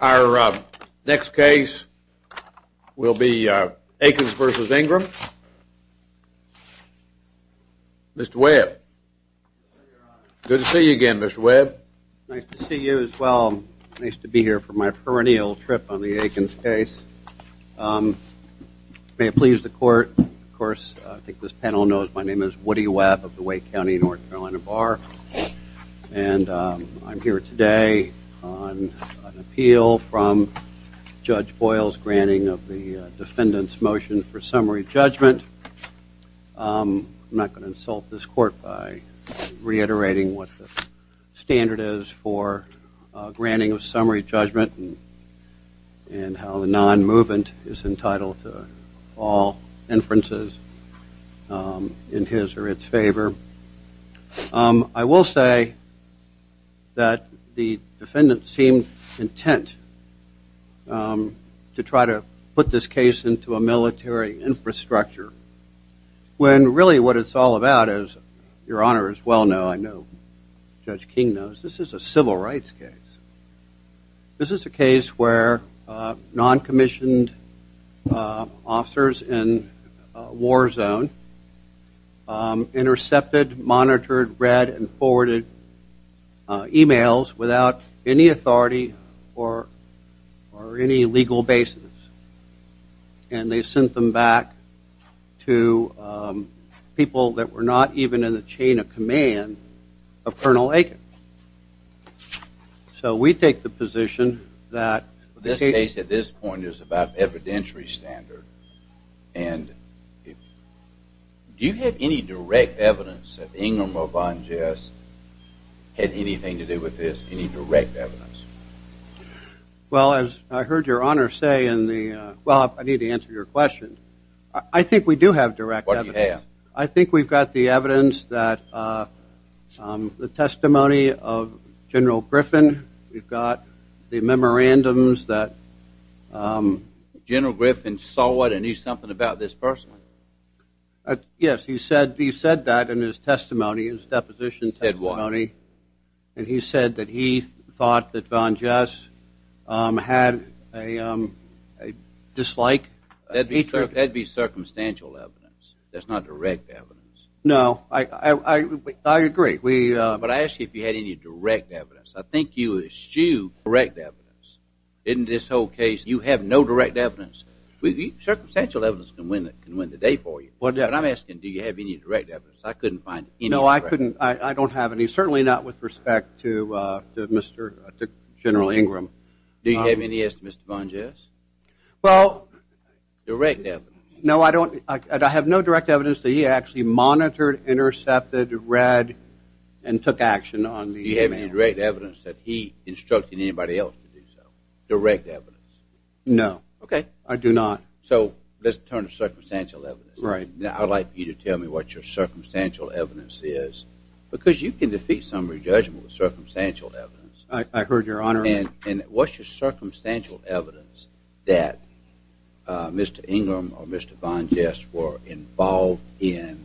Our next case will be Aikens v. Ingram. Mr. Webb. Good to see you again, Mr. Webb. Nice to see you as well. Nice to be here for my perennial trip on the Aikens case. May it please the court. Of course, I think this panel knows my name is Woody Webb of the Wake County North Carolina Bar. And I'm here today on an appeal from Judge Boyle's granting of the defendant's motion for summary judgment. I'm not going to insult this court by reiterating what the standard is for granting of summary judgment and how the non-movement is entitled to all inferences in his or its favor. I will say that the defendant seemed intent to try to put this case into a military infrastructure when really what it's all about is, your honor as well know, I know Judge King knows, this is a civil rights case. This is a case where non-commissioned officers in a war zone intercepted, monitored, read, and forwarded emails without any authority or any legal basis. And they sent them back to people that were not even in the chain of command of Colonel Aiken. So we take the position that the case at this point is about evidentiary standard. And do you have any direct evidence that Ingram or Von Jess had anything to do with this, any direct evidence? Well, as I heard your honor say in the, well, I need to answer your question. I think we do have direct evidence. I think we've got the evidence that the testimony of General Griffin, we've got the memorandums that. General Griffin saw what and knew something about this person. Yes, he said that in his testimony, his deposition testimony. And he said that he thought that Von Jess had a dislike. That'd be circumstantial evidence. That's not direct evidence. No, I agree. But I asked you if you had any direct evidence. I think you eschewed correct evidence. In this whole case, you have no direct evidence. Circumstantial evidence can win the day for you. But I'm asking, do you have any direct evidence? I couldn't find any direct evidence. I don't have any, certainly not with respect to General Ingram. Do you have any as to Mr. Von Jess? Well, Direct evidence. No, I don't. I have no direct evidence that he actually monitored, intercepted, read, and took action on the man. Do you have any direct evidence that he instructed anybody else to do so? Direct evidence. No. OK, I do not. So let's turn to circumstantial evidence. Right. Now, I'd like you to tell me what your circumstantial evidence is. Because you can defeat summary judgment with circumstantial evidence. I heard your honor. And what's your circumstantial evidence that Mr. Ingram or Mr. Von Jess were involved in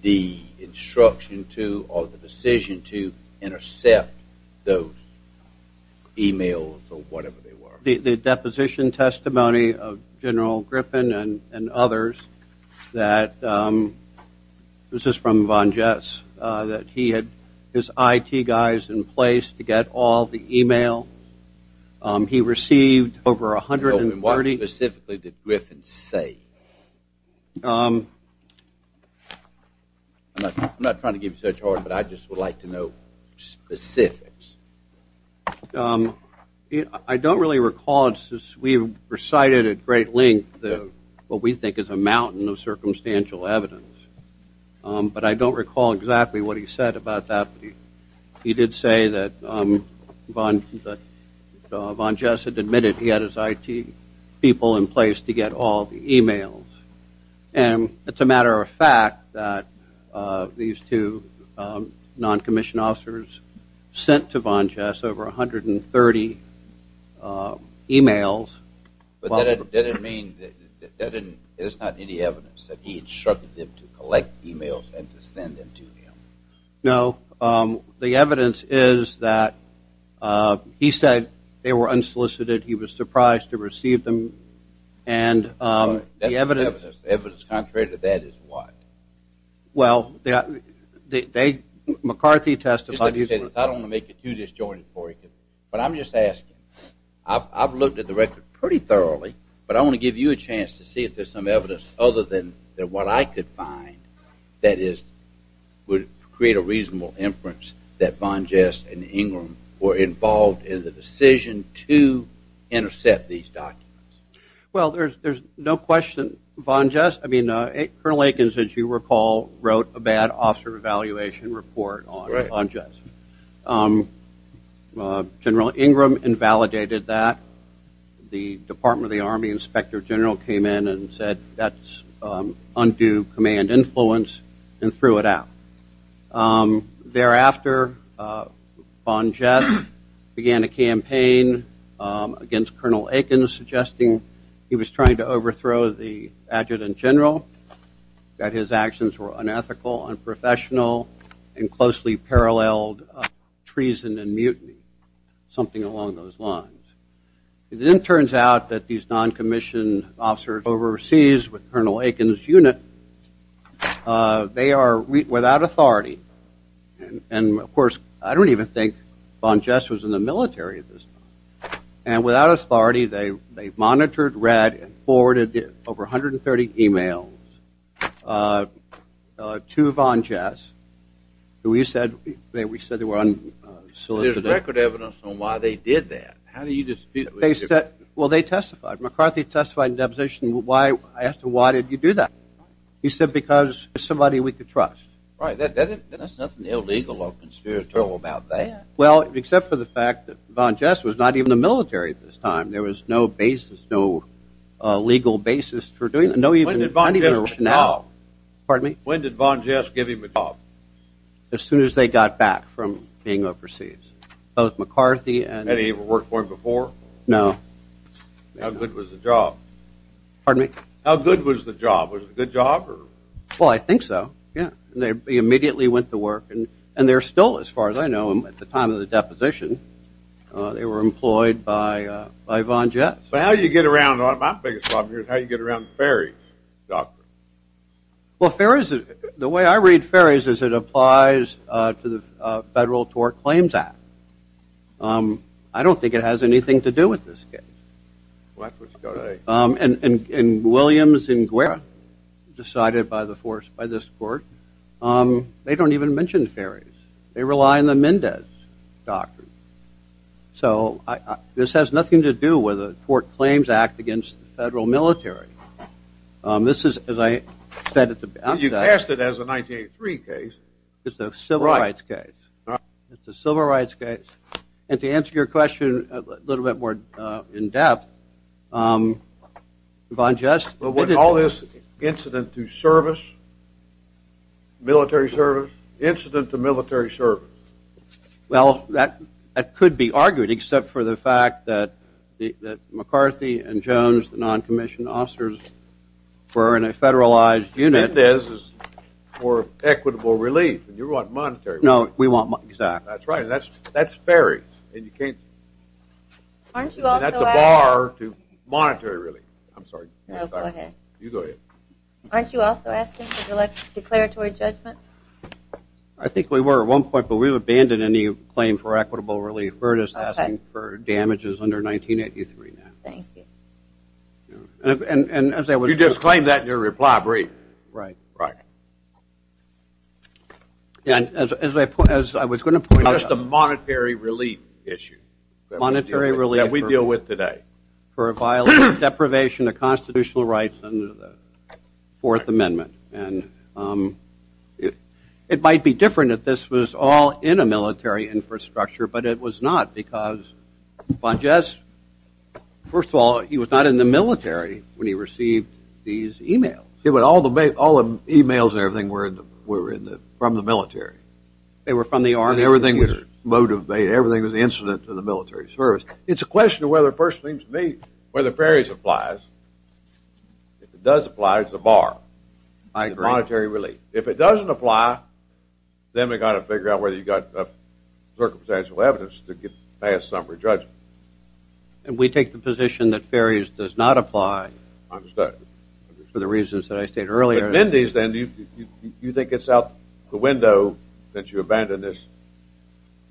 the instruction to, or the decision to, intercept those emails or whatever they were? The deposition testimony of General Griffin and others that, this is from Von Jess, that he had his IT guys in place to get all the email. He received over 130. And what specifically did Griffin say? I'm not trying to give you such hard, but I just would like to know specifics. I don't really recall. We recited at great length what we think is a mountain of circumstantial evidence. But I don't recall exactly what he said about that. He did say that Von Jess had admitted he had his IT people in place to get all the emails. And it's a matter of fact that these two non-commissioned officers sent to Von Jess over 130 emails. But that didn't mean that there's not any evidence that he instructed them to collect emails and to send them to him. No. The evidence is that he said they were unsolicited. He was surprised to receive them. And the evidence. Evidence contrary to that is what? Well, McCarthy testified he said, I don't want to make it too disjointed for you. But I'm just asking. I've looked at the record pretty thoroughly. But I want to give you a chance to see if there's some evidence other than what I could find that would create a reasonable inference that Von Jess and Ingram were involved in the decision to intercept these documents. Well, there's no question Von Jess. I mean, Colonel Akins, as you recall, wrote a bad officer evaluation report on Von Jess. General Ingram invalidated that. The Department of the Army Inspector General came in and said, that's undue command influence and threw it out. Thereafter, Von Jess began a campaign against Colonel Akins suggesting he was trying to overthrow the adjutant general, that his actions were unethical, unprofessional, and closely paralleled treason and mutiny, something along those lines. It then turns out that these non-commissioned officers overseas with Colonel Akins' unit, they are without authority. And of course, I don't even think Von Jess was in the military at this time. And without authority, they monitored, read, and forwarded over 130 emails to Von Jess, who we said they were unsolicited. There's record evidence on why they did that. They said, well, they testified. McCarthy testified in deposition. I asked him, why did you do that? He said, because there's somebody we could trust. Right, there's nothing illegal or conspiratorial about that. Well, except for the fact that Von Jess was not even in the military at this time. There was no basis, no legal basis for doing that. When did Von Jess give him a job? As soon as they got back from being overseas. Both McCarthy and- Had he ever worked for him before? No. How good was the job? Pardon me? How good was the job? Was it a good job? Well, I think so, yeah. They immediately went to work, and they're still, as far as I know, at the time of the deposition, they were employed by Von Jess. But how do you get around, my biggest problem here is how do you get around the Ferries doctrine? Well, Ferries, the way I read Ferries is it applies to the Federal Tort Claims Act. I don't think it has anything to do with this case. Well, that's what's going on. And Williams and Guerra, decided by the force by this court, they don't even mention Ferries. They rely on the Mendez doctrine. So this has nothing to do with the Tort Claims Act against the federal military. This is, as I said at the outset- You passed it as a 1983 case. It's a civil rights case. It's a civil rights case. And to answer your question a little bit more in depth, Von Jess- But with all this incident to service, military service, incident to military service. Well, that could be argued, except for the fact that McCarthy and Jones, the non-commissioned officers, were in a federalized unit. Mendez is for equitable relief, and you want monetary relief. No, we want- Exactly. That's right, and that's Ferries. And you can't- Aren't you also asking- And that's a bar to monetary relief. I'm sorry. No, go ahead. You go ahead. Aren't you also asking for declaratory judgment? I think we were at one point, but we've abandoned any claim for equitable relief. We're just asking for damages under 1983 now. Thank you. And as I was- You disclaimed that in your reply brief. Right. Right. And as I was going to point out- It's just a monetary relief issue. Monetary relief- That we deal with today. For a violation of deprivation of constitutional rights under the Fourth Amendment. And it might be different if this was all in a military infrastructure, but it was not, because Von Jess, first of all, he was not in the military when he received these emails. Yeah, but all the emails and everything were from the military. They were from the Army. And everything was motivated. Everything was incident to the military service. It's a question of whether it first seems to me, whether Ferries applies. If it does apply, it's a bar. I agree. Monetary relief. If it doesn't apply, then we've got to figure out whether you've got enough circumstantial evidence to get past summary judgment. And we take the position that Ferries does not apply for the reasons that I stated earlier. But Mendez, then, do you think it's out the window that you abandon this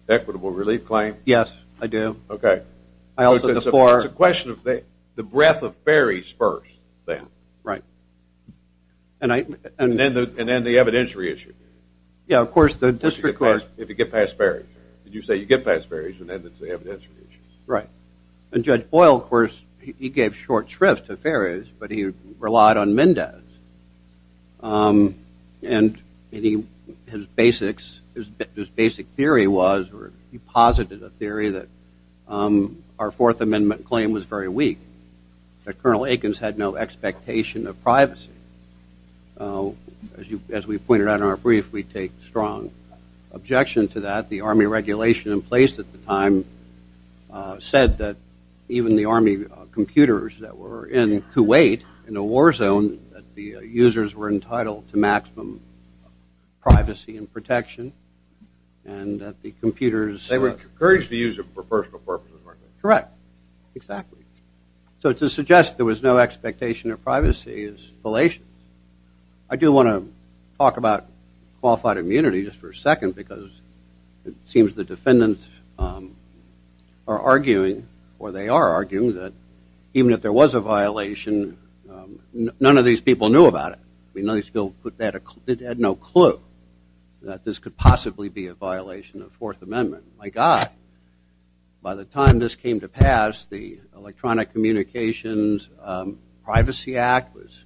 equitable relief claim? Yes, I do. OK. I also, therefore- It's a question of the breadth of Ferries first, then. Right. And then the evidentiary issue. Yeah, of course, the district court- If you get past Ferries. Did you say you get past Ferries, and then it's the evidentiary issues? Right. And Judge Boyle, of course, he gave short shrift to Ferries, but he relied on Mendez. And his basic theory was, or he posited a theory, that our Fourth Amendment claim was very weak. That Colonel Aikens had no expectation of privacy. As we pointed out in our brief, we take strong objection to that. The Army regulation in place at the time said that even the Army computers that were in Kuwait in a war zone, that the users were entitled to maximum privacy and protection. And that the computers- They were encouraged to use them for personal purposes, weren't they? Correct. Exactly. So to suggest there was no expectation of privacy is fallacious. I do want to talk about qualified immunity just for a second, because it seems the defendants are arguing, or they are arguing, that even if there was a violation, none of these people knew about it. None of these people had no clue that this could possibly be a violation of Fourth Amendment. My god, by the time this came to pass, the Electronic Communications Privacy Act was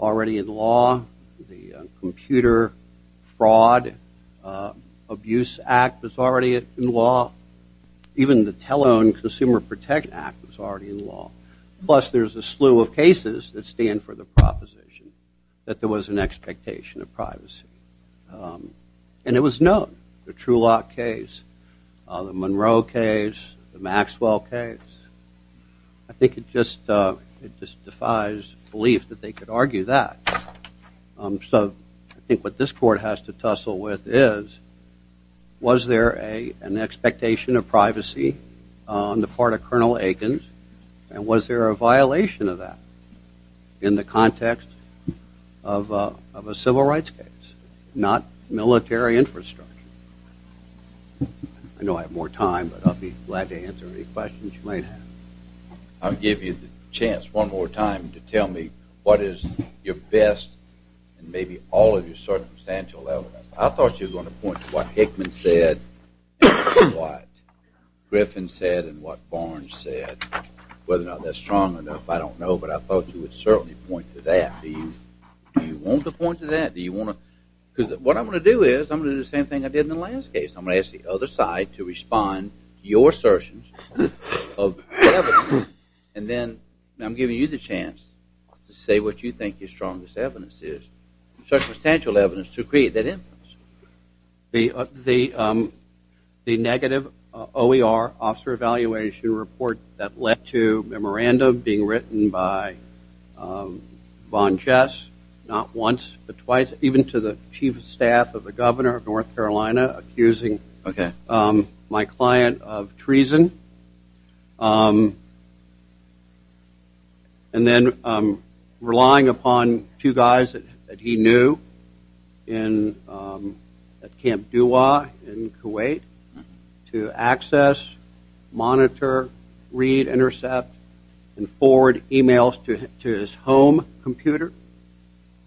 already in law. The Computer Fraud Abuse Act was already in law. Even the Tele-Owned Consumer Protect Act was already in law. Plus, there's a slew of cases that stand for the proposition that there was an expectation of privacy. And it was known. The Truelock case, the Monroe case, the Maxwell case. I think it just defies belief that they could argue that. So I think what this court has to tussle with is, was there an expectation of privacy on the part of Colonel Aikens? And was there a violation of that in the context of a civil rights case, not military infrastructure? I know I have more time, but I'll be glad to answer any questions you might have. I'll give you the chance one more time to tell me what is your best, and maybe all of your circumstantial evidence. I thought you were going to point to what Hickman said, what Griffin said, and what Barnes said. Whether or not that's strong enough, I don't know. But I thought you would certainly point to that. Do you want to point to that? Because what I'm going to do is, I'm going to do the same thing I did in the last case. I'm going to ask the other side to respond to your assertions of evidence. And then I'm giving you the chance to say what you think your strongest evidence is, circumstantial evidence, to create that inference. The negative OER officer evaluation report that led to a memorandum being written by Von Jess, not once but twice, even to the chief of staff of the governor of North Carolina accusing my client of treason. And then relying upon two guys that he knew at Camp Duwa in Kuwait to access, monitor, read, intercept, and forward emails to his home computer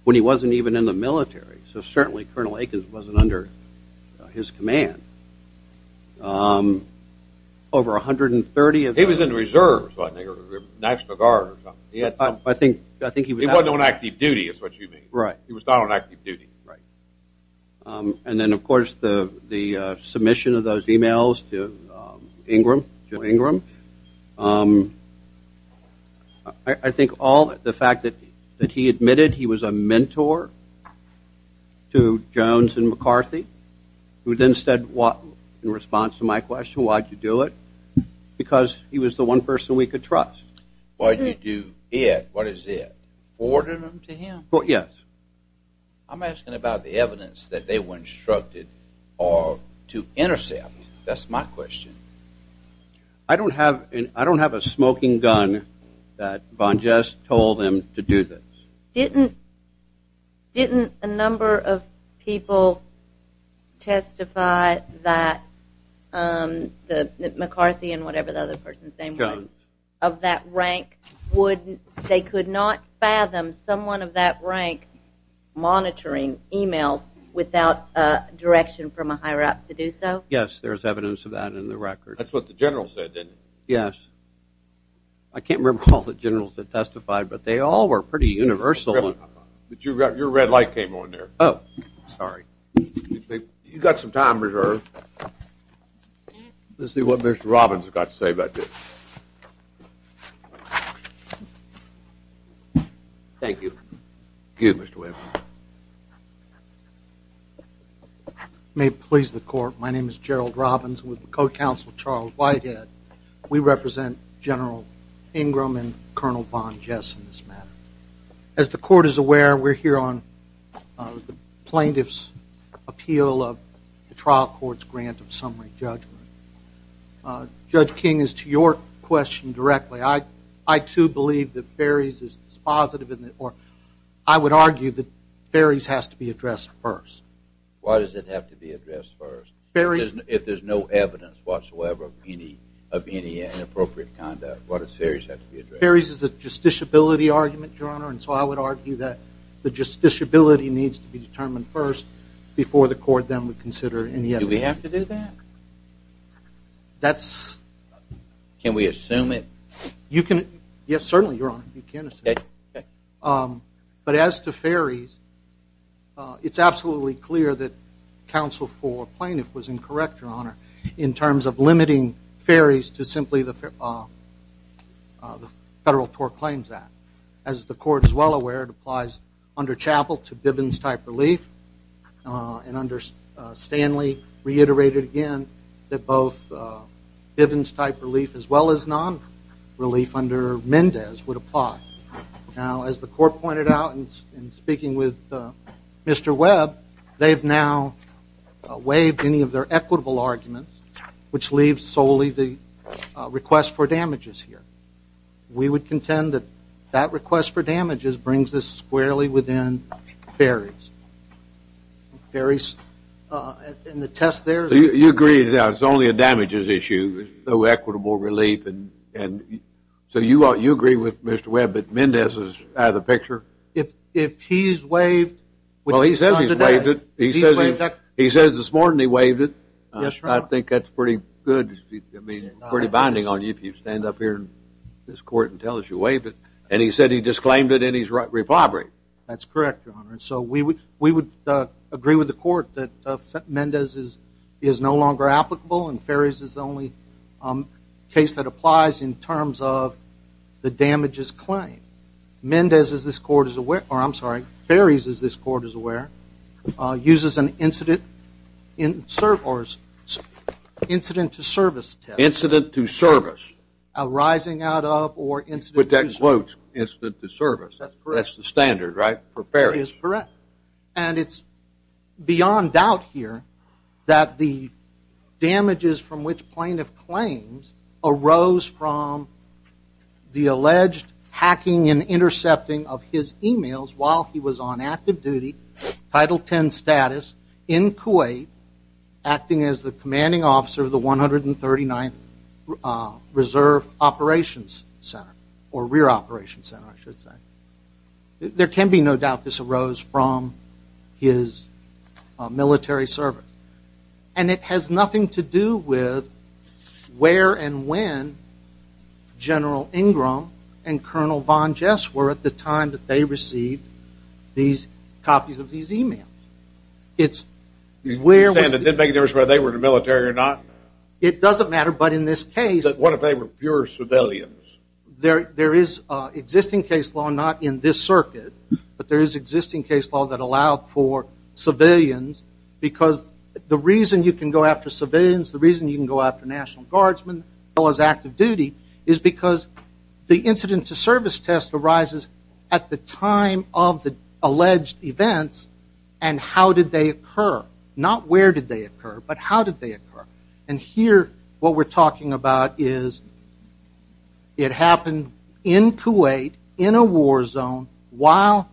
when he wasn't even in the military. So certainly, Colonel Aikens wasn't under his command. Over 130 of them. He was in the reserves, wasn't he, or National Guard or something. I think he was out. He wasn't on active duty, is what you mean. He was not on active duty. to Ingram, Jim Ingram. I think all the fact that he admitted he was a mentor to Jones and McCarthy, who then said, in response to my question, why'd you do it? Because he was the one person we could trust. Why'd you do it? What is it? Ordered them to him? Yes. I'm asking about the evidence that they were instructed to intercept. That's my question. I don't have a smoking gun that Von Jess told them to do this. Didn't a number of people testify that McCarthy and whatever the other person's name was, of that rank, they could not fathom someone of that rank monitoring emails without direction from a higher-up to do so? Yes, there's evidence of that in the record. That's what the general said, didn't it? Yes. I can't recall the generals that testified, but they all were pretty universal. But your red light came on there. Oh, sorry. You've got some time reserved. Let's see what Mr. Robbins has got to say about this. Thank you. Excuse me, Mr. Williams. May it please the court. My name is Gerald Robbins. I'm with the code counsel, Charles Whitehead. We represent General Ingram and Colonel Von Jess in this matter. As the court is aware, we're here on the plaintiff's appeal of the trial court's grant of summary judgment. Judge King, as to your question directly, I, too, believe that Ferries is dispositive, or I would argue that Ferries has to be addressed first. Why does it have to be addressed first? If there's no evidence whatsoever of any inappropriate conduct, why does Ferries have to be addressed first? Ferries is a justiciability argument, Your Honor. And so I would argue that the justiciability needs to be determined first before the court then would consider any evidence. Do we have to do that? You can. Yes, certainly, Your Honor, you can assume it. OK. But as to Ferries, it's absolutely clear that counsel for plaintiff was incorrect, Your Honor, in terms of limiting Ferries to simply the Federal Tort Claims Act. As the court is well aware, it applies under Chappell to Bivens-type relief. And under Stanley, reiterated again that both Bivens-type relief as well as non-relief under Mendez would apply. Now, as the court pointed out in speaking with Mr. Webb, they've now waived any of their equitable arguments, which leaves solely the request for damages here. We would contend that that request for damages brings us squarely within Ferries. And the test there is that it's only a damages issue. No equitable relief. So you agree with Mr. Webb that Mendez is out of the picture? If he's waived, which he's done today, he's waived it. He says this morning he waived it. I think that's pretty good. I mean, pretty binding on you if you stand up here in this court and tell us you waived it. And he said he disclaimed it and he's repoberating. That's correct, Your Honor. So we would agree with the court that Mendez is no longer applicable and Ferries is the only case that applies in terms of the damages claim. Mendez, as this court is aware, or I'm sorry, Ferries, as this court is aware, uses an incident to service test. Incident to service. Arising out of or incident to service. With that quote, incident to service. That's correct. That's the standard, right, for Ferries? That is correct. And it's beyond doubt here that the damages from which plaintiff claims arose from the alleged hacking and intercepting of his emails while he was on active duty, Title 10 status, in Kuwait, acting as the commanding officer of the 139th Reserve Operations Center, or Rear Operations Center, I should say. There can be no doubt this arose from his military service. And it has nothing to do with where and when General Ingram and Colonel Von Jess were at the time that they received these copies of these emails. It's where was the- You're saying it didn't make a difference whether they were in the military or not? It doesn't matter, but in this case- What if they were pure civilians? There is existing case law, not in this circuit, but there is existing case law that allowed for civilians. Because the reason you can go after civilians, the reason you can go after National Guardsmen as well as active duty, is because the incident to service test arises at the time of the alleged events and how did they occur. Not where did they occur, but how did they occur. And here, what we're talking about is, it happened in Kuwait, in a war zone, while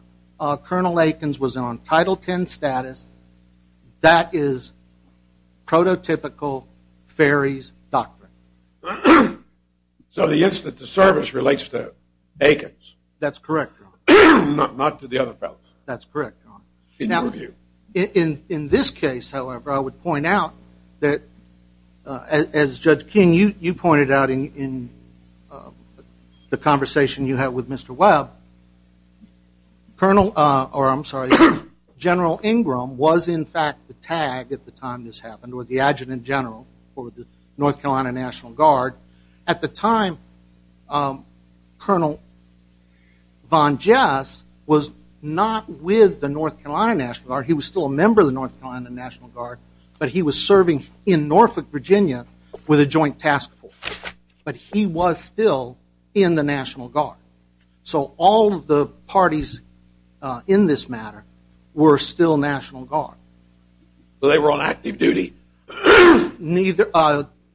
Colonel Aikens was on Title 10 status. That is prototypical ferry's doctrine. So the incident to service relates to Aikens? That's correct, Your Honor. Not to the other fellows? That's correct, Your Honor. In your view? In this case, however, I would point out that as Judge King, you pointed out in the conversation you had with Mr. Webb, Colonel, or I'm sorry, General Ingram was in fact the tag at the time this happened, or the adjutant general for the North Carolina National Guard. At the time, Colonel Von Jess was not with the North Carolina National Guard. He was still a member of the North Carolina National Guard, but he was serving in Norfolk, Virginia with a joint task force. But he was still in the National Guard. So all of the parties in this matter were still National Guard. So they were on active duty? Neither,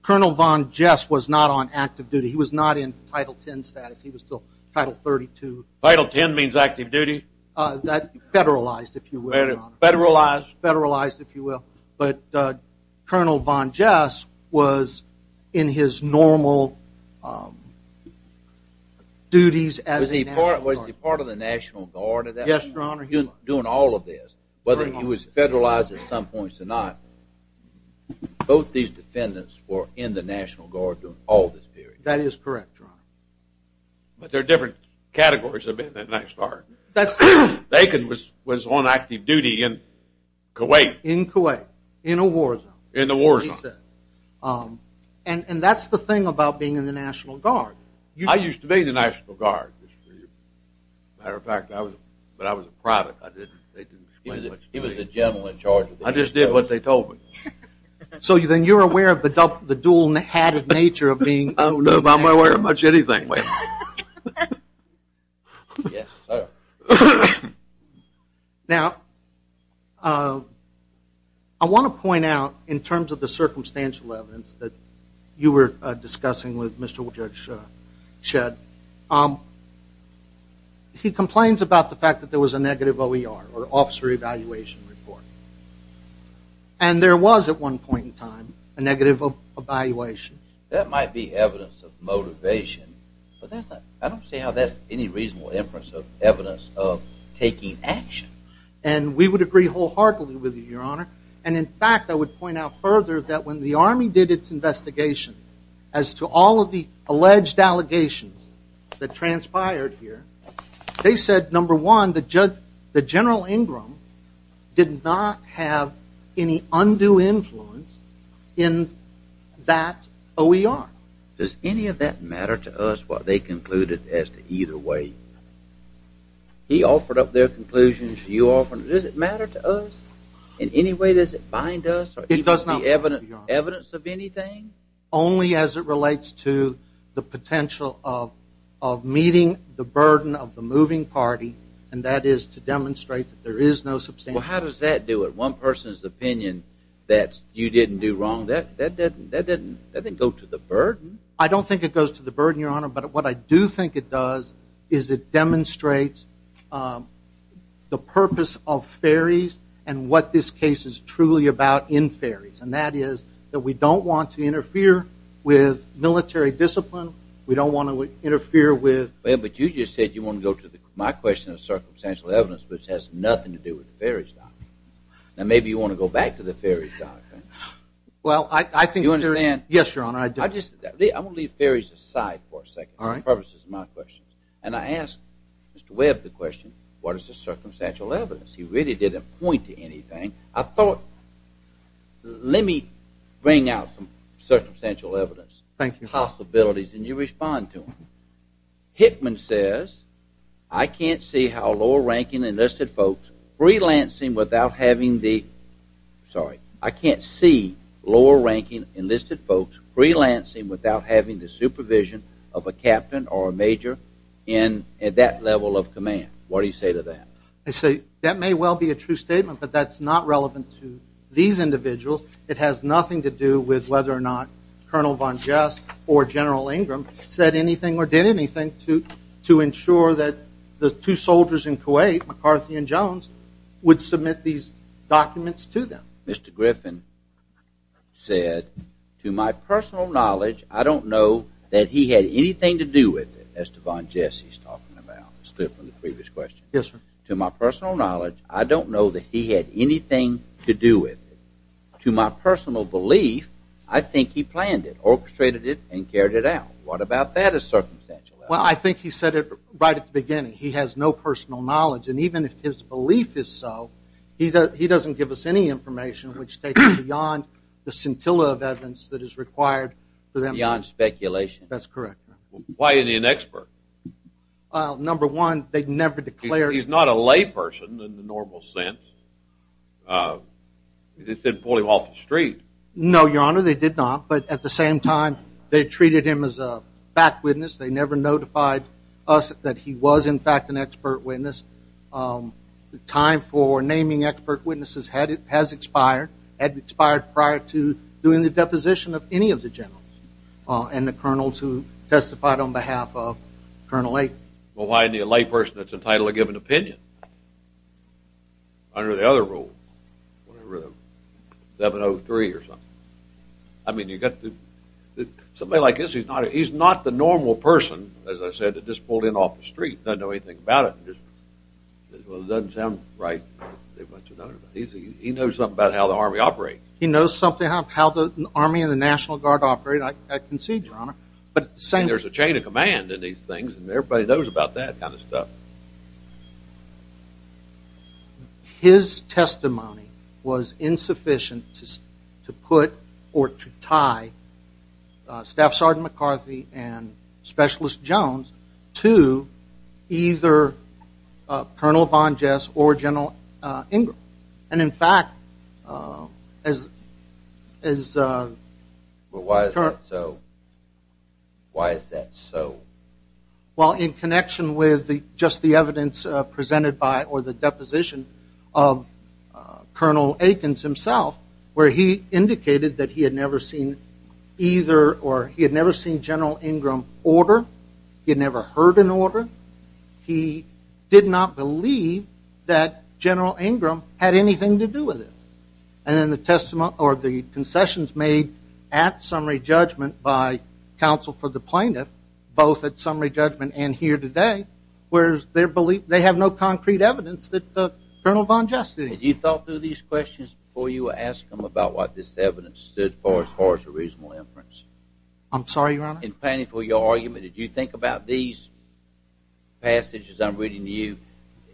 Colonel Von Jess was not on active duty. He was not in Title 10 status. He was still Title 32. Title 10 means active duty? That federalized, if you will, Your Honor. Federalized? Federalized, if you will. But Colonel Von Jess was in his normal duties as a National Guard. Was he part of the National Guard at that point? Yes, Your Honor, he was. Doing all of this, whether he was federalized at some points or not, both these defendants were in the National Guard during all this period. That is correct, Your Honor. But there are different categories of being a National Guard. That's true. Bacon was on active duty in Kuwait. In Kuwait, in a war zone. In a war zone. And that's the thing about being in the National Guard. I used to be in the National Guard. Matter of fact, but I was a private. I didn't, they didn't explain much to me. He was the general in charge. I just did what they told me. So then you're aware of the dual-hatted nature of being in the National Guard? I don't know if I'm aware of much of anything, wait. Yes, sir. Now, I want to point out, in terms of the circumstantial evidence that you were discussing with Mr. Judge Shedd, he complains about the fact that there was a negative OER, or officer evaluation report. And there was, at one point in time, a negative evaluation. That might be evidence of motivation, but I don't see how that's any reasonable inference of evidence of taking action. And we would agree wholeheartedly with you, Your Honor. And in fact, I would point out further that when the Army did its investigation, as to all of the alleged allegations that transpired here, they said, number one, that General Ingram did not have any undue influence in that OER. Does any of that matter to us, what they concluded as to either way? He offered up their conclusions, you offered, does it matter to us? In any way, does it bind us, or even be evidence of anything? Only as it relates to the potential of meeting the burden of the moving party, and that is to demonstrate that there is no substantial. Well, how does that do it? One person's opinion that you didn't do wrong, that didn't go to the burden. I don't think it goes to the burden, Your Honor, but what I do think it does is it demonstrates the purpose of ferries, and what this case is truly about in ferries. And that is that we don't want to interfere with military discipline, we don't want to interfere with- Well, but you just said you want to go to my question of circumstantial evidence, which has nothing to do with the ferries doctrine. Now, maybe you want to go back to the ferries doctrine. Well, I think- Do you understand? Yes, Your Honor, I do. I just, I'm going to leave ferries aside for a second, for the purposes of my question. And I asked Mr. Webb the question, what is the circumstantial evidence? He really didn't point to anything. I thought, let me bring out some circumstantial evidence. Thank you. Possibilities, and you respond to them. Hickman says, I can't see how lower-ranking enlisted folks freelancing without having the, sorry, I can't see lower-ranking enlisted folks freelancing without having the supervision of a captain or a major in that level of command. What do you say to that? I say, that may well be a true statement, but that's not relevant to these individuals. It has nothing to do with whether or not Colonel Von Jess or General Ingram said anything or did anything to ensure that the two soldiers in Kuwait, McCarthy and Jones, would submit these documents to them. Mr. Griffin said, to my personal knowledge, I don't know that he had anything to do with it, as to Von Jess he's talking about, split from the previous question. Yes, sir. To my personal knowledge, I don't know that he had anything to do with it. To my personal belief, I think he planned it, orchestrated it, and carried it out. What about that as circumstantial evidence? Well, I think he said it right at the beginning. He has no personal knowledge, and even if his belief is so, he doesn't give us any information which takes us beyond the scintilla of evidence that is required for them. Beyond speculation. That's correct. Why isn't he an expert? Number one, they never declared. He's not a lay person in the normal sense. They didn't pull him off the street. No, your honor, they did not, but at the same time, they treated him as a back witness. They never notified us that he was, in fact, an expert witness. The time for naming expert witnesses has expired, had expired prior to doing the deposition of any of the generals and the colonels who testified on behalf of Colonel A. Well, why any lay person that's entitled to give an opinion under the other rule, whatever, 703 or something? I mean, you got to, somebody like this, he's not the normal person, as I said, that just pulled in off the street, doesn't know anything about it, and just, well, it doesn't sound right. He knows something about how the Army operates. He knows something about how the Army and the National Guard operate, I concede, your honor, but at the same- And there's a chain of command in these things, and everybody knows about that kind of stuff. His testimony was insufficient to put, or to tie Staff Sergeant McCarthy and Specialist Jones to either Colonel Von Jess or General Ingram. And in fact, as- But why is that so? Why is that so? Well, in connection with just the evidence presented by, or the deposition of Colonel Akins himself, where he indicated that he had never seen either, or he had never seen General Ingram order, he had never heard an order, he did not believe that General Ingram had anything to do with it. And then the testimony, or the concessions made at summary judgment by counsel for the plaintiff, both at summary judgment and here today, where they have no concrete evidence that Colonel Von Jess did it. Had you thought through these questions before you asked him about what this evidence stood for as far as a reasonable inference? I'm sorry, your honor? In planning for your argument, did you think about these passages I'm reading to you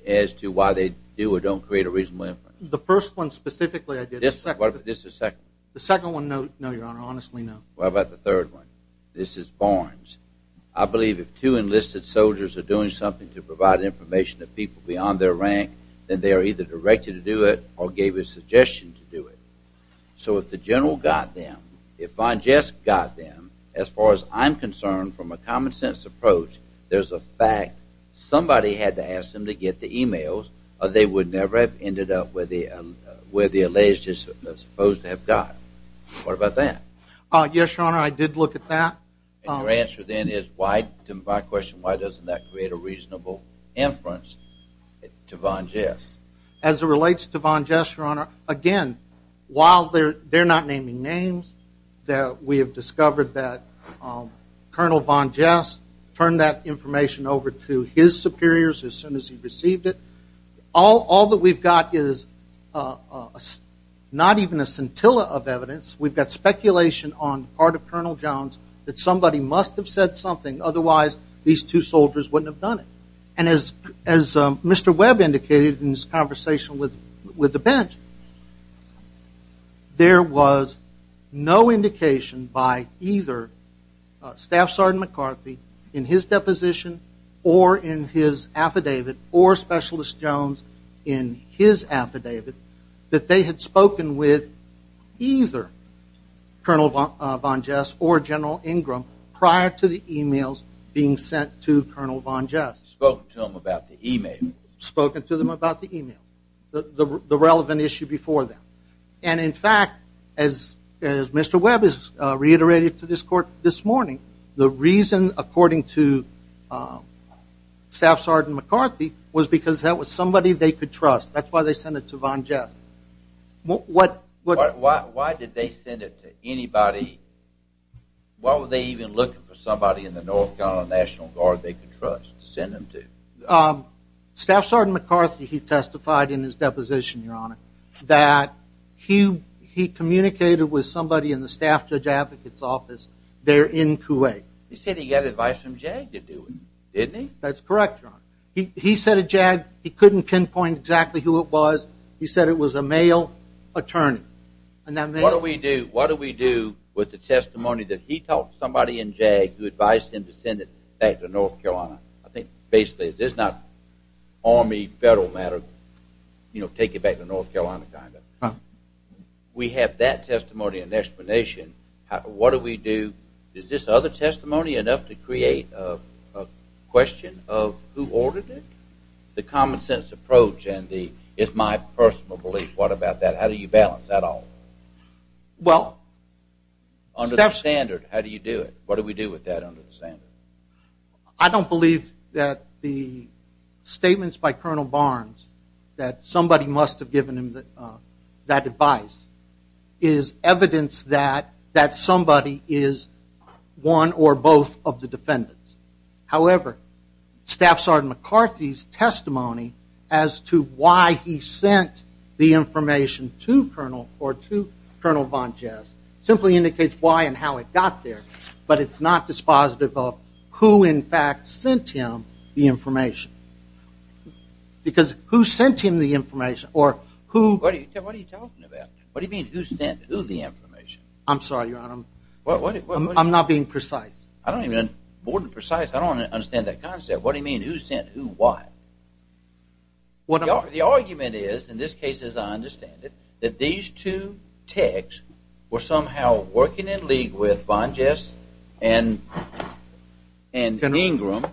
as to why they do or don't create a reasonable inference? The first one specifically, I did. This is the second. The second one, no, your honor, honestly, no. Well, how about the third one? This is Barnes. I believe if two enlisted soldiers are doing something to provide information to people beyond their rank, then they are either directed to do it, or gave a suggestion to do it. So if the general got them, if Von Jess got them, as far as I'm concerned, from a common sense approach, there's a fact somebody had to ask them to get the emails, or they would never have ended up where the alleged is supposed to have got. What about that? Yes, your honor, I did look at that. And your answer then is, to my question, why doesn't that create a reasonable inference to Von Jess? As it relates to Von Jess, your honor, again, while they're not naming names, that we have discovered that Colonel Von Jess turned that information over to his superiors as soon as he received it, all that we've got is not even a scintilla of evidence. We've got speculation on part of Colonel Jones that somebody must have said something, otherwise these two soldiers wouldn't have done it. And as Mr. Webb indicated in his conversation with the bench, there was no indication by either Staff Sergeant McCarthy in his deposition or in his affidavit, or Specialist Jones in his affidavit, that they had spoken with either Colonel Von Jess or General Ingram prior to the emails being sent to Colonel Von Jess. Spoken to them about the email. Spoken to them about the email. The relevant issue before them. And in fact, as Mr. Webb has reiterated to this court this morning, the reason, according to Staff Sergeant McCarthy, was because that was somebody they could trust. That's why they sent it to Von Jess. Why did they send it to anybody? Why were they even looking for somebody in the North Carolina National Guard they could trust to send them to? Staff Sergeant McCarthy, he testified in his deposition, Your Honor, that he communicated with somebody in the Staff Judge Advocate's office there in Kuwait. He said he got advice from JAG to do it, didn't he? That's correct, Your Honor. He said to JAG, he couldn't pinpoint exactly who it was. He said it was a male attorney. And that male- What do we do with the testimony that he told somebody in JAG who advised him to send it back to North Carolina? I think, basically, this is not Army, federal matter. You know, take it back to North Carolina, kind of. We have that testimony and explanation. What do we do? Is this other testimony enough to create a question of who ordered it? The common-sense approach and the, it's my personal belief, what about that? How do you balance that all? Well- Under the standard, how do you do it? What do we do with that under the standard? I don't believe that the statements by Colonel Barnes, that somebody must have given him that advice, is evidence that somebody is one or both of the defendants. However, Staff Sergeant McCarthy's testimony as to why he sent the information to Colonel, or to Colonel Von Jazz, simply indicates why and how it got there. But it's not dispositive of who, in fact, sent him the information. Because who sent him the information, or who- What are you talking about? What do you mean, who sent who the information? I'm sorry, Your Honor, I'm not being precise. I don't even, more than precise, I don't understand that concept. What do you mean, who sent who, why? Well, the argument is, in this case, as I understand it, that these two techs were somehow working in league with Von Jazz and Ingram,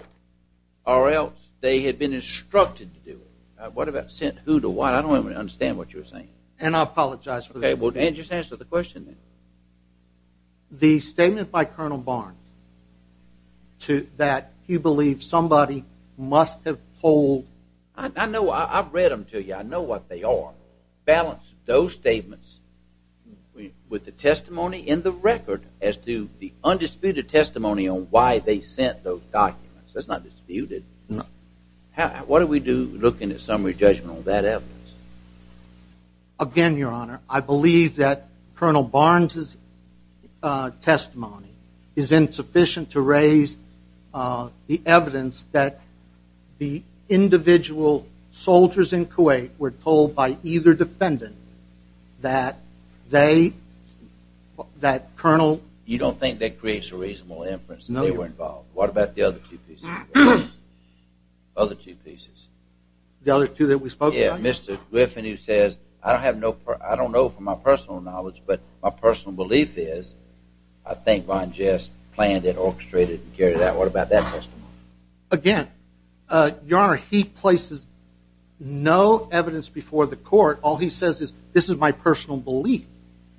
or else they had been instructed to do it. What about sent who to what? I don't even understand what you're saying. And I apologize for that. Okay, well, just answer the question then. The statement by Colonel Barnes, that he believed somebody must have told- I know, I've read them to you. I know what they are. Balance those statements with the testimony in the record as to the undisputed testimony on why they sent those documents. That's not disputed. What do we do looking at summary judgment on that evidence? Again, Your Honor, I believe that Colonel Barnes' testimony is insufficient to raise the evidence that the individual soldiers in Kuwait were told by either defendant that they, that Colonel- You don't think that creates a reasonable inference that they were involved? What about the other two pieces? Other two pieces? The other two that we spoke about? Yeah, Mr. Griffin, who says, I don't know from my personal knowledge, but my personal belief is, I think Von Jazz planned it, orchestrated it, and carried it out. What about that testimony? Again, Your Honor, he places no evidence before the court. All he says is, this is my personal belief.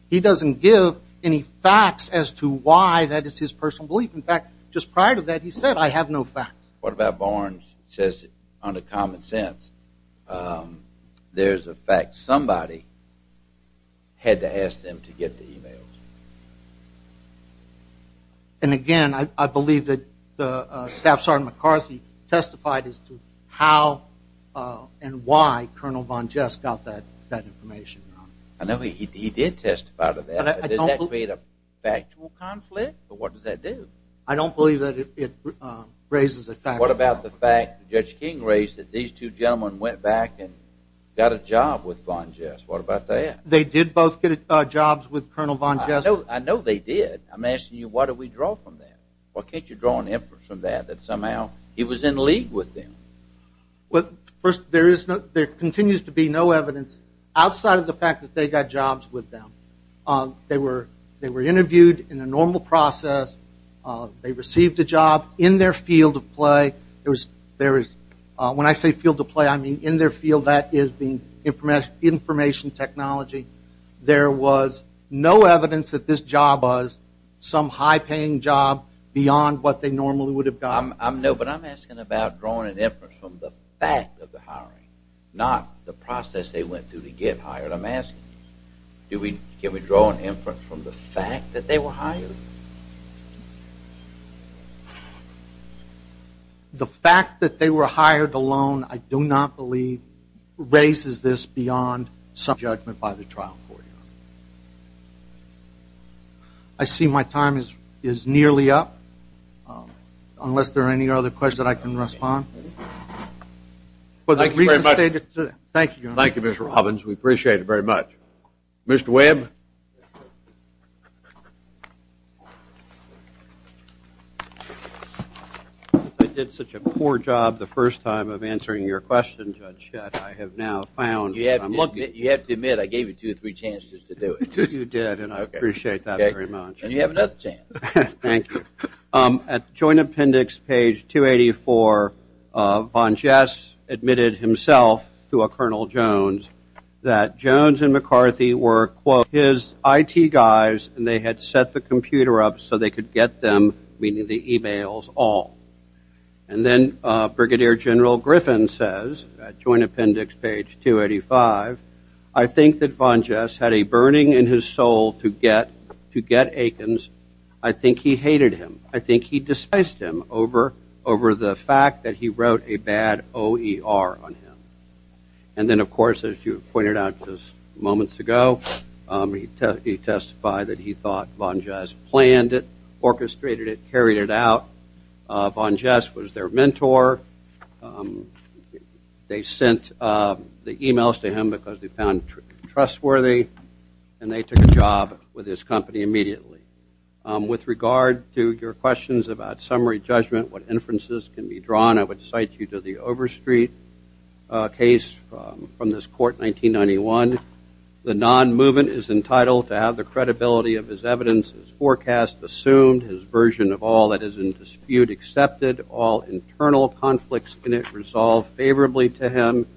He doesn't give any facts as to why that is his personal belief. In fact, just prior to that, he said, I have no facts. What about Barnes says, under common sense, there's a fact somebody had to ask them to get the emails? And again, I believe that Staff Sergeant McCarthy testified as to how and why Colonel Von Jazz got that information, Your Honor. I know he did testify to that. Did that create a factual conflict, or what does that do? I don't believe that it raises a factual conflict. What about the fact that Judge King raised that these two gentlemen went back and got a job with Von Jazz? What about that? They did both get jobs with Colonel Von Jazz. I know they did. I'm asking you, why do we draw from that? Why can't you draw an inference from that, that somehow he was in league with them? Well, first, there continues to be no evidence outside of the fact that they got jobs with them. They were interviewed in a normal process. They received a job in their field of play. When I say field of play, I mean in their field, that is being information technology. There was no evidence that this job was some high-paying job beyond what they normally would have gotten. No, but I'm asking about drawing an inference from the fact of the hiring, not the process they went through to get hired. I'm asking, can we draw an inference from the fact that they were hired? The fact that they were hired alone, I do not believe raises this beyond some judgment by the trial court. I see my time is nearly up. Unless there are any other questions, I can respond. Thank you very much. Thank you, Your Honor. Thank you, Mr. Robbins. We appreciate it very much. Mr. Webb. I did such a poor job the first time of answering your question, Judge Shett. I have now found that I'm looking. You have to admit, I gave you two or three chances to do it. You did, and I appreciate that very much. And you have another chance. Thank you. At joint appendix page 284, Von Jess admitted himself to a Colonel Jones that Jones and McCarthy were, quote, his IT guys and they had set the computer up so they could get them, meaning the emails, all. And then Brigadier General Griffin says, at joint appendix page 285, I think that Von Jess had a burning in his soul to get Aikens. I think he hated him. I think he despised him over the fact that he wrote a bad OER on him. And then, of course, as you pointed out just moments ago, he testified that he thought Von Jess planned it, orchestrated it, carried it out. Von Jess was their mentor. They sent the emails to him because they found trustworthy, and they took a job with his company immediately. With regard to your questions about summary judgment, what inferences can be drawn, I would cite you to the Overstreet case from this court, 1991. The non-movement is entitled to have the credibility of his evidence as forecast, assumed, his version of all that is in dispute accepted, all internal conflicts in it resolved favorably to him,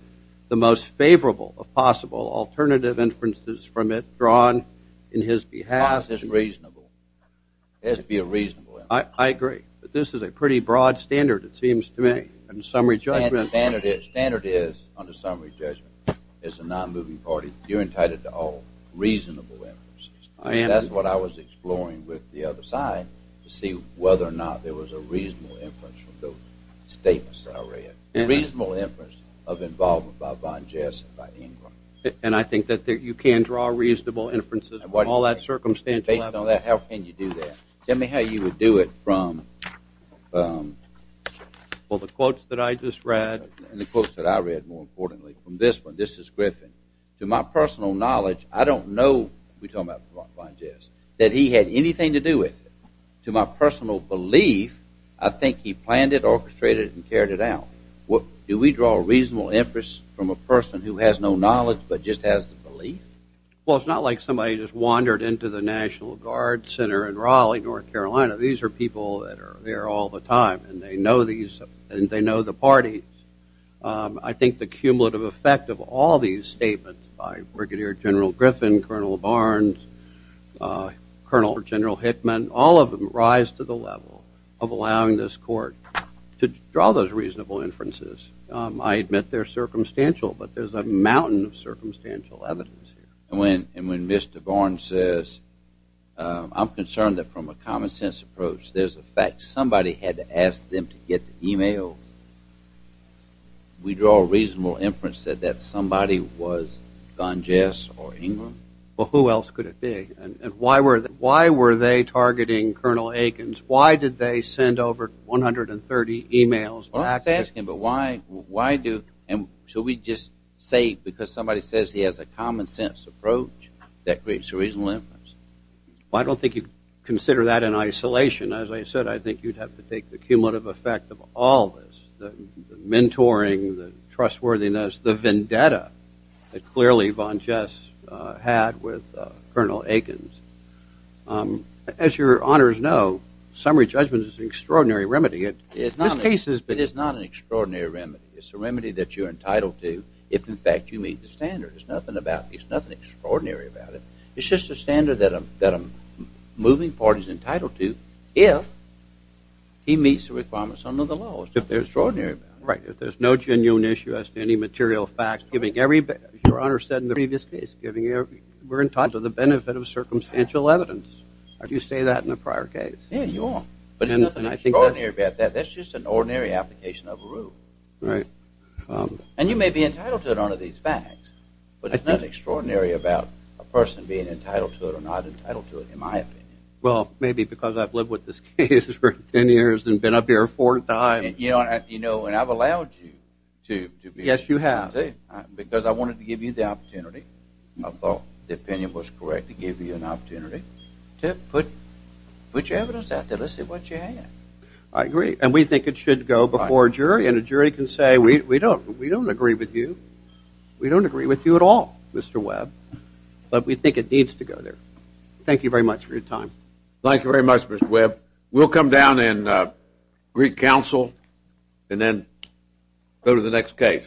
the most favorable of possible alternative inferences from it drawn in his behalf. It has to be a reasonable inference. I agree, but this is a pretty broad standard, it seems to me, in summary judgment. Standard is, under summary judgment, as a non-moving party, you're entitled to all reasonable inferences. I am. That's what I was exploring with the other side to see whether or not there was a reasonable inference from those statements I read. A reasonable inference of involvement by Von Jess and by Ingram. And I think that you can draw a reasonable inferences with all that circumstantial evidence. Based on that, how can you do that? Tell me how you would do it from, well, the quotes that I just read, and the quotes that I read, more importantly, from this one, this is Griffin. To my personal knowledge, I don't know, we're talking about Von Jess, that he had anything to do with it. To my personal belief, I think he planned it, do we draw a reasonable inference from a person who has no knowledge, but just has the belief? Well, it's not like somebody just wandered into the National Guard Center in Raleigh, North Carolina. These are people that are there all the time, and they know these, and they know the parties. I think the cumulative effect of all these statements by Brigadier General Griffin, Colonel Barnes, Colonel General Hickman, all of them rise to the level of allowing this court to draw those reasonable inferences. I admit they're circumstantial, but there's a mountain of circumstantial evidence here. And when Mr. Barnes says, I'm concerned that from a common sense approach, there's the fact somebody had to ask them to get the emails. We draw a reasonable inference that that somebody was Von Jess or Ingram. Well, who else could it be? And why were they targeting Colonel Akins? Why did they send over 130 emails back? Well, I'm not asking, but why do? And should we just say, because somebody says he has a common sense approach, that creates a reasonable inference? Well, I don't think you'd consider that in isolation. As I said, I think you'd have to take the cumulative effect of all this, the mentoring, the trustworthiness, the vendetta, that clearly Von Jess had with Colonel Akins. As your honors know, summary judgment is an extraordinary remedy. It's not an extraordinary remedy. It's a remedy that you're entitled to if, in fact, you meet the standard. There's nothing extraordinary about it. It's just a standard that a moving party's entitled to if he meets the requirements under the law. It's just extraordinary. Right, if there's no genuine issue as to any material fact, giving every, as your honor said in the previous case, we're entitled to the benefit of circumstantial evidence. I do say that in a prior case. Yeah, you are. But there's nothing extraordinary about that. That's just an ordinary application of a rule. Right. And you may be entitled to it under these facts, but it's not extraordinary about a person being entitled to it or not entitled to it, in my opinion. Well, maybe because I've lived with this case for 10 years and been up here four times. You know, and I've allowed you to be. Yes, you have. Because I wanted to give you the opportunity. I thought the opinion was correct to give you an opportunity to put your evidence out there. Let's see what you have. I agree. And we think it should go before a jury. And a jury can say, we don't agree with you. We don't agree with you at all, Mr. Webb. But we think it needs to go there. Thank you very much for your time. Thank you very much, Mr. Webb. We'll come down in Greek Council and then go to the next case.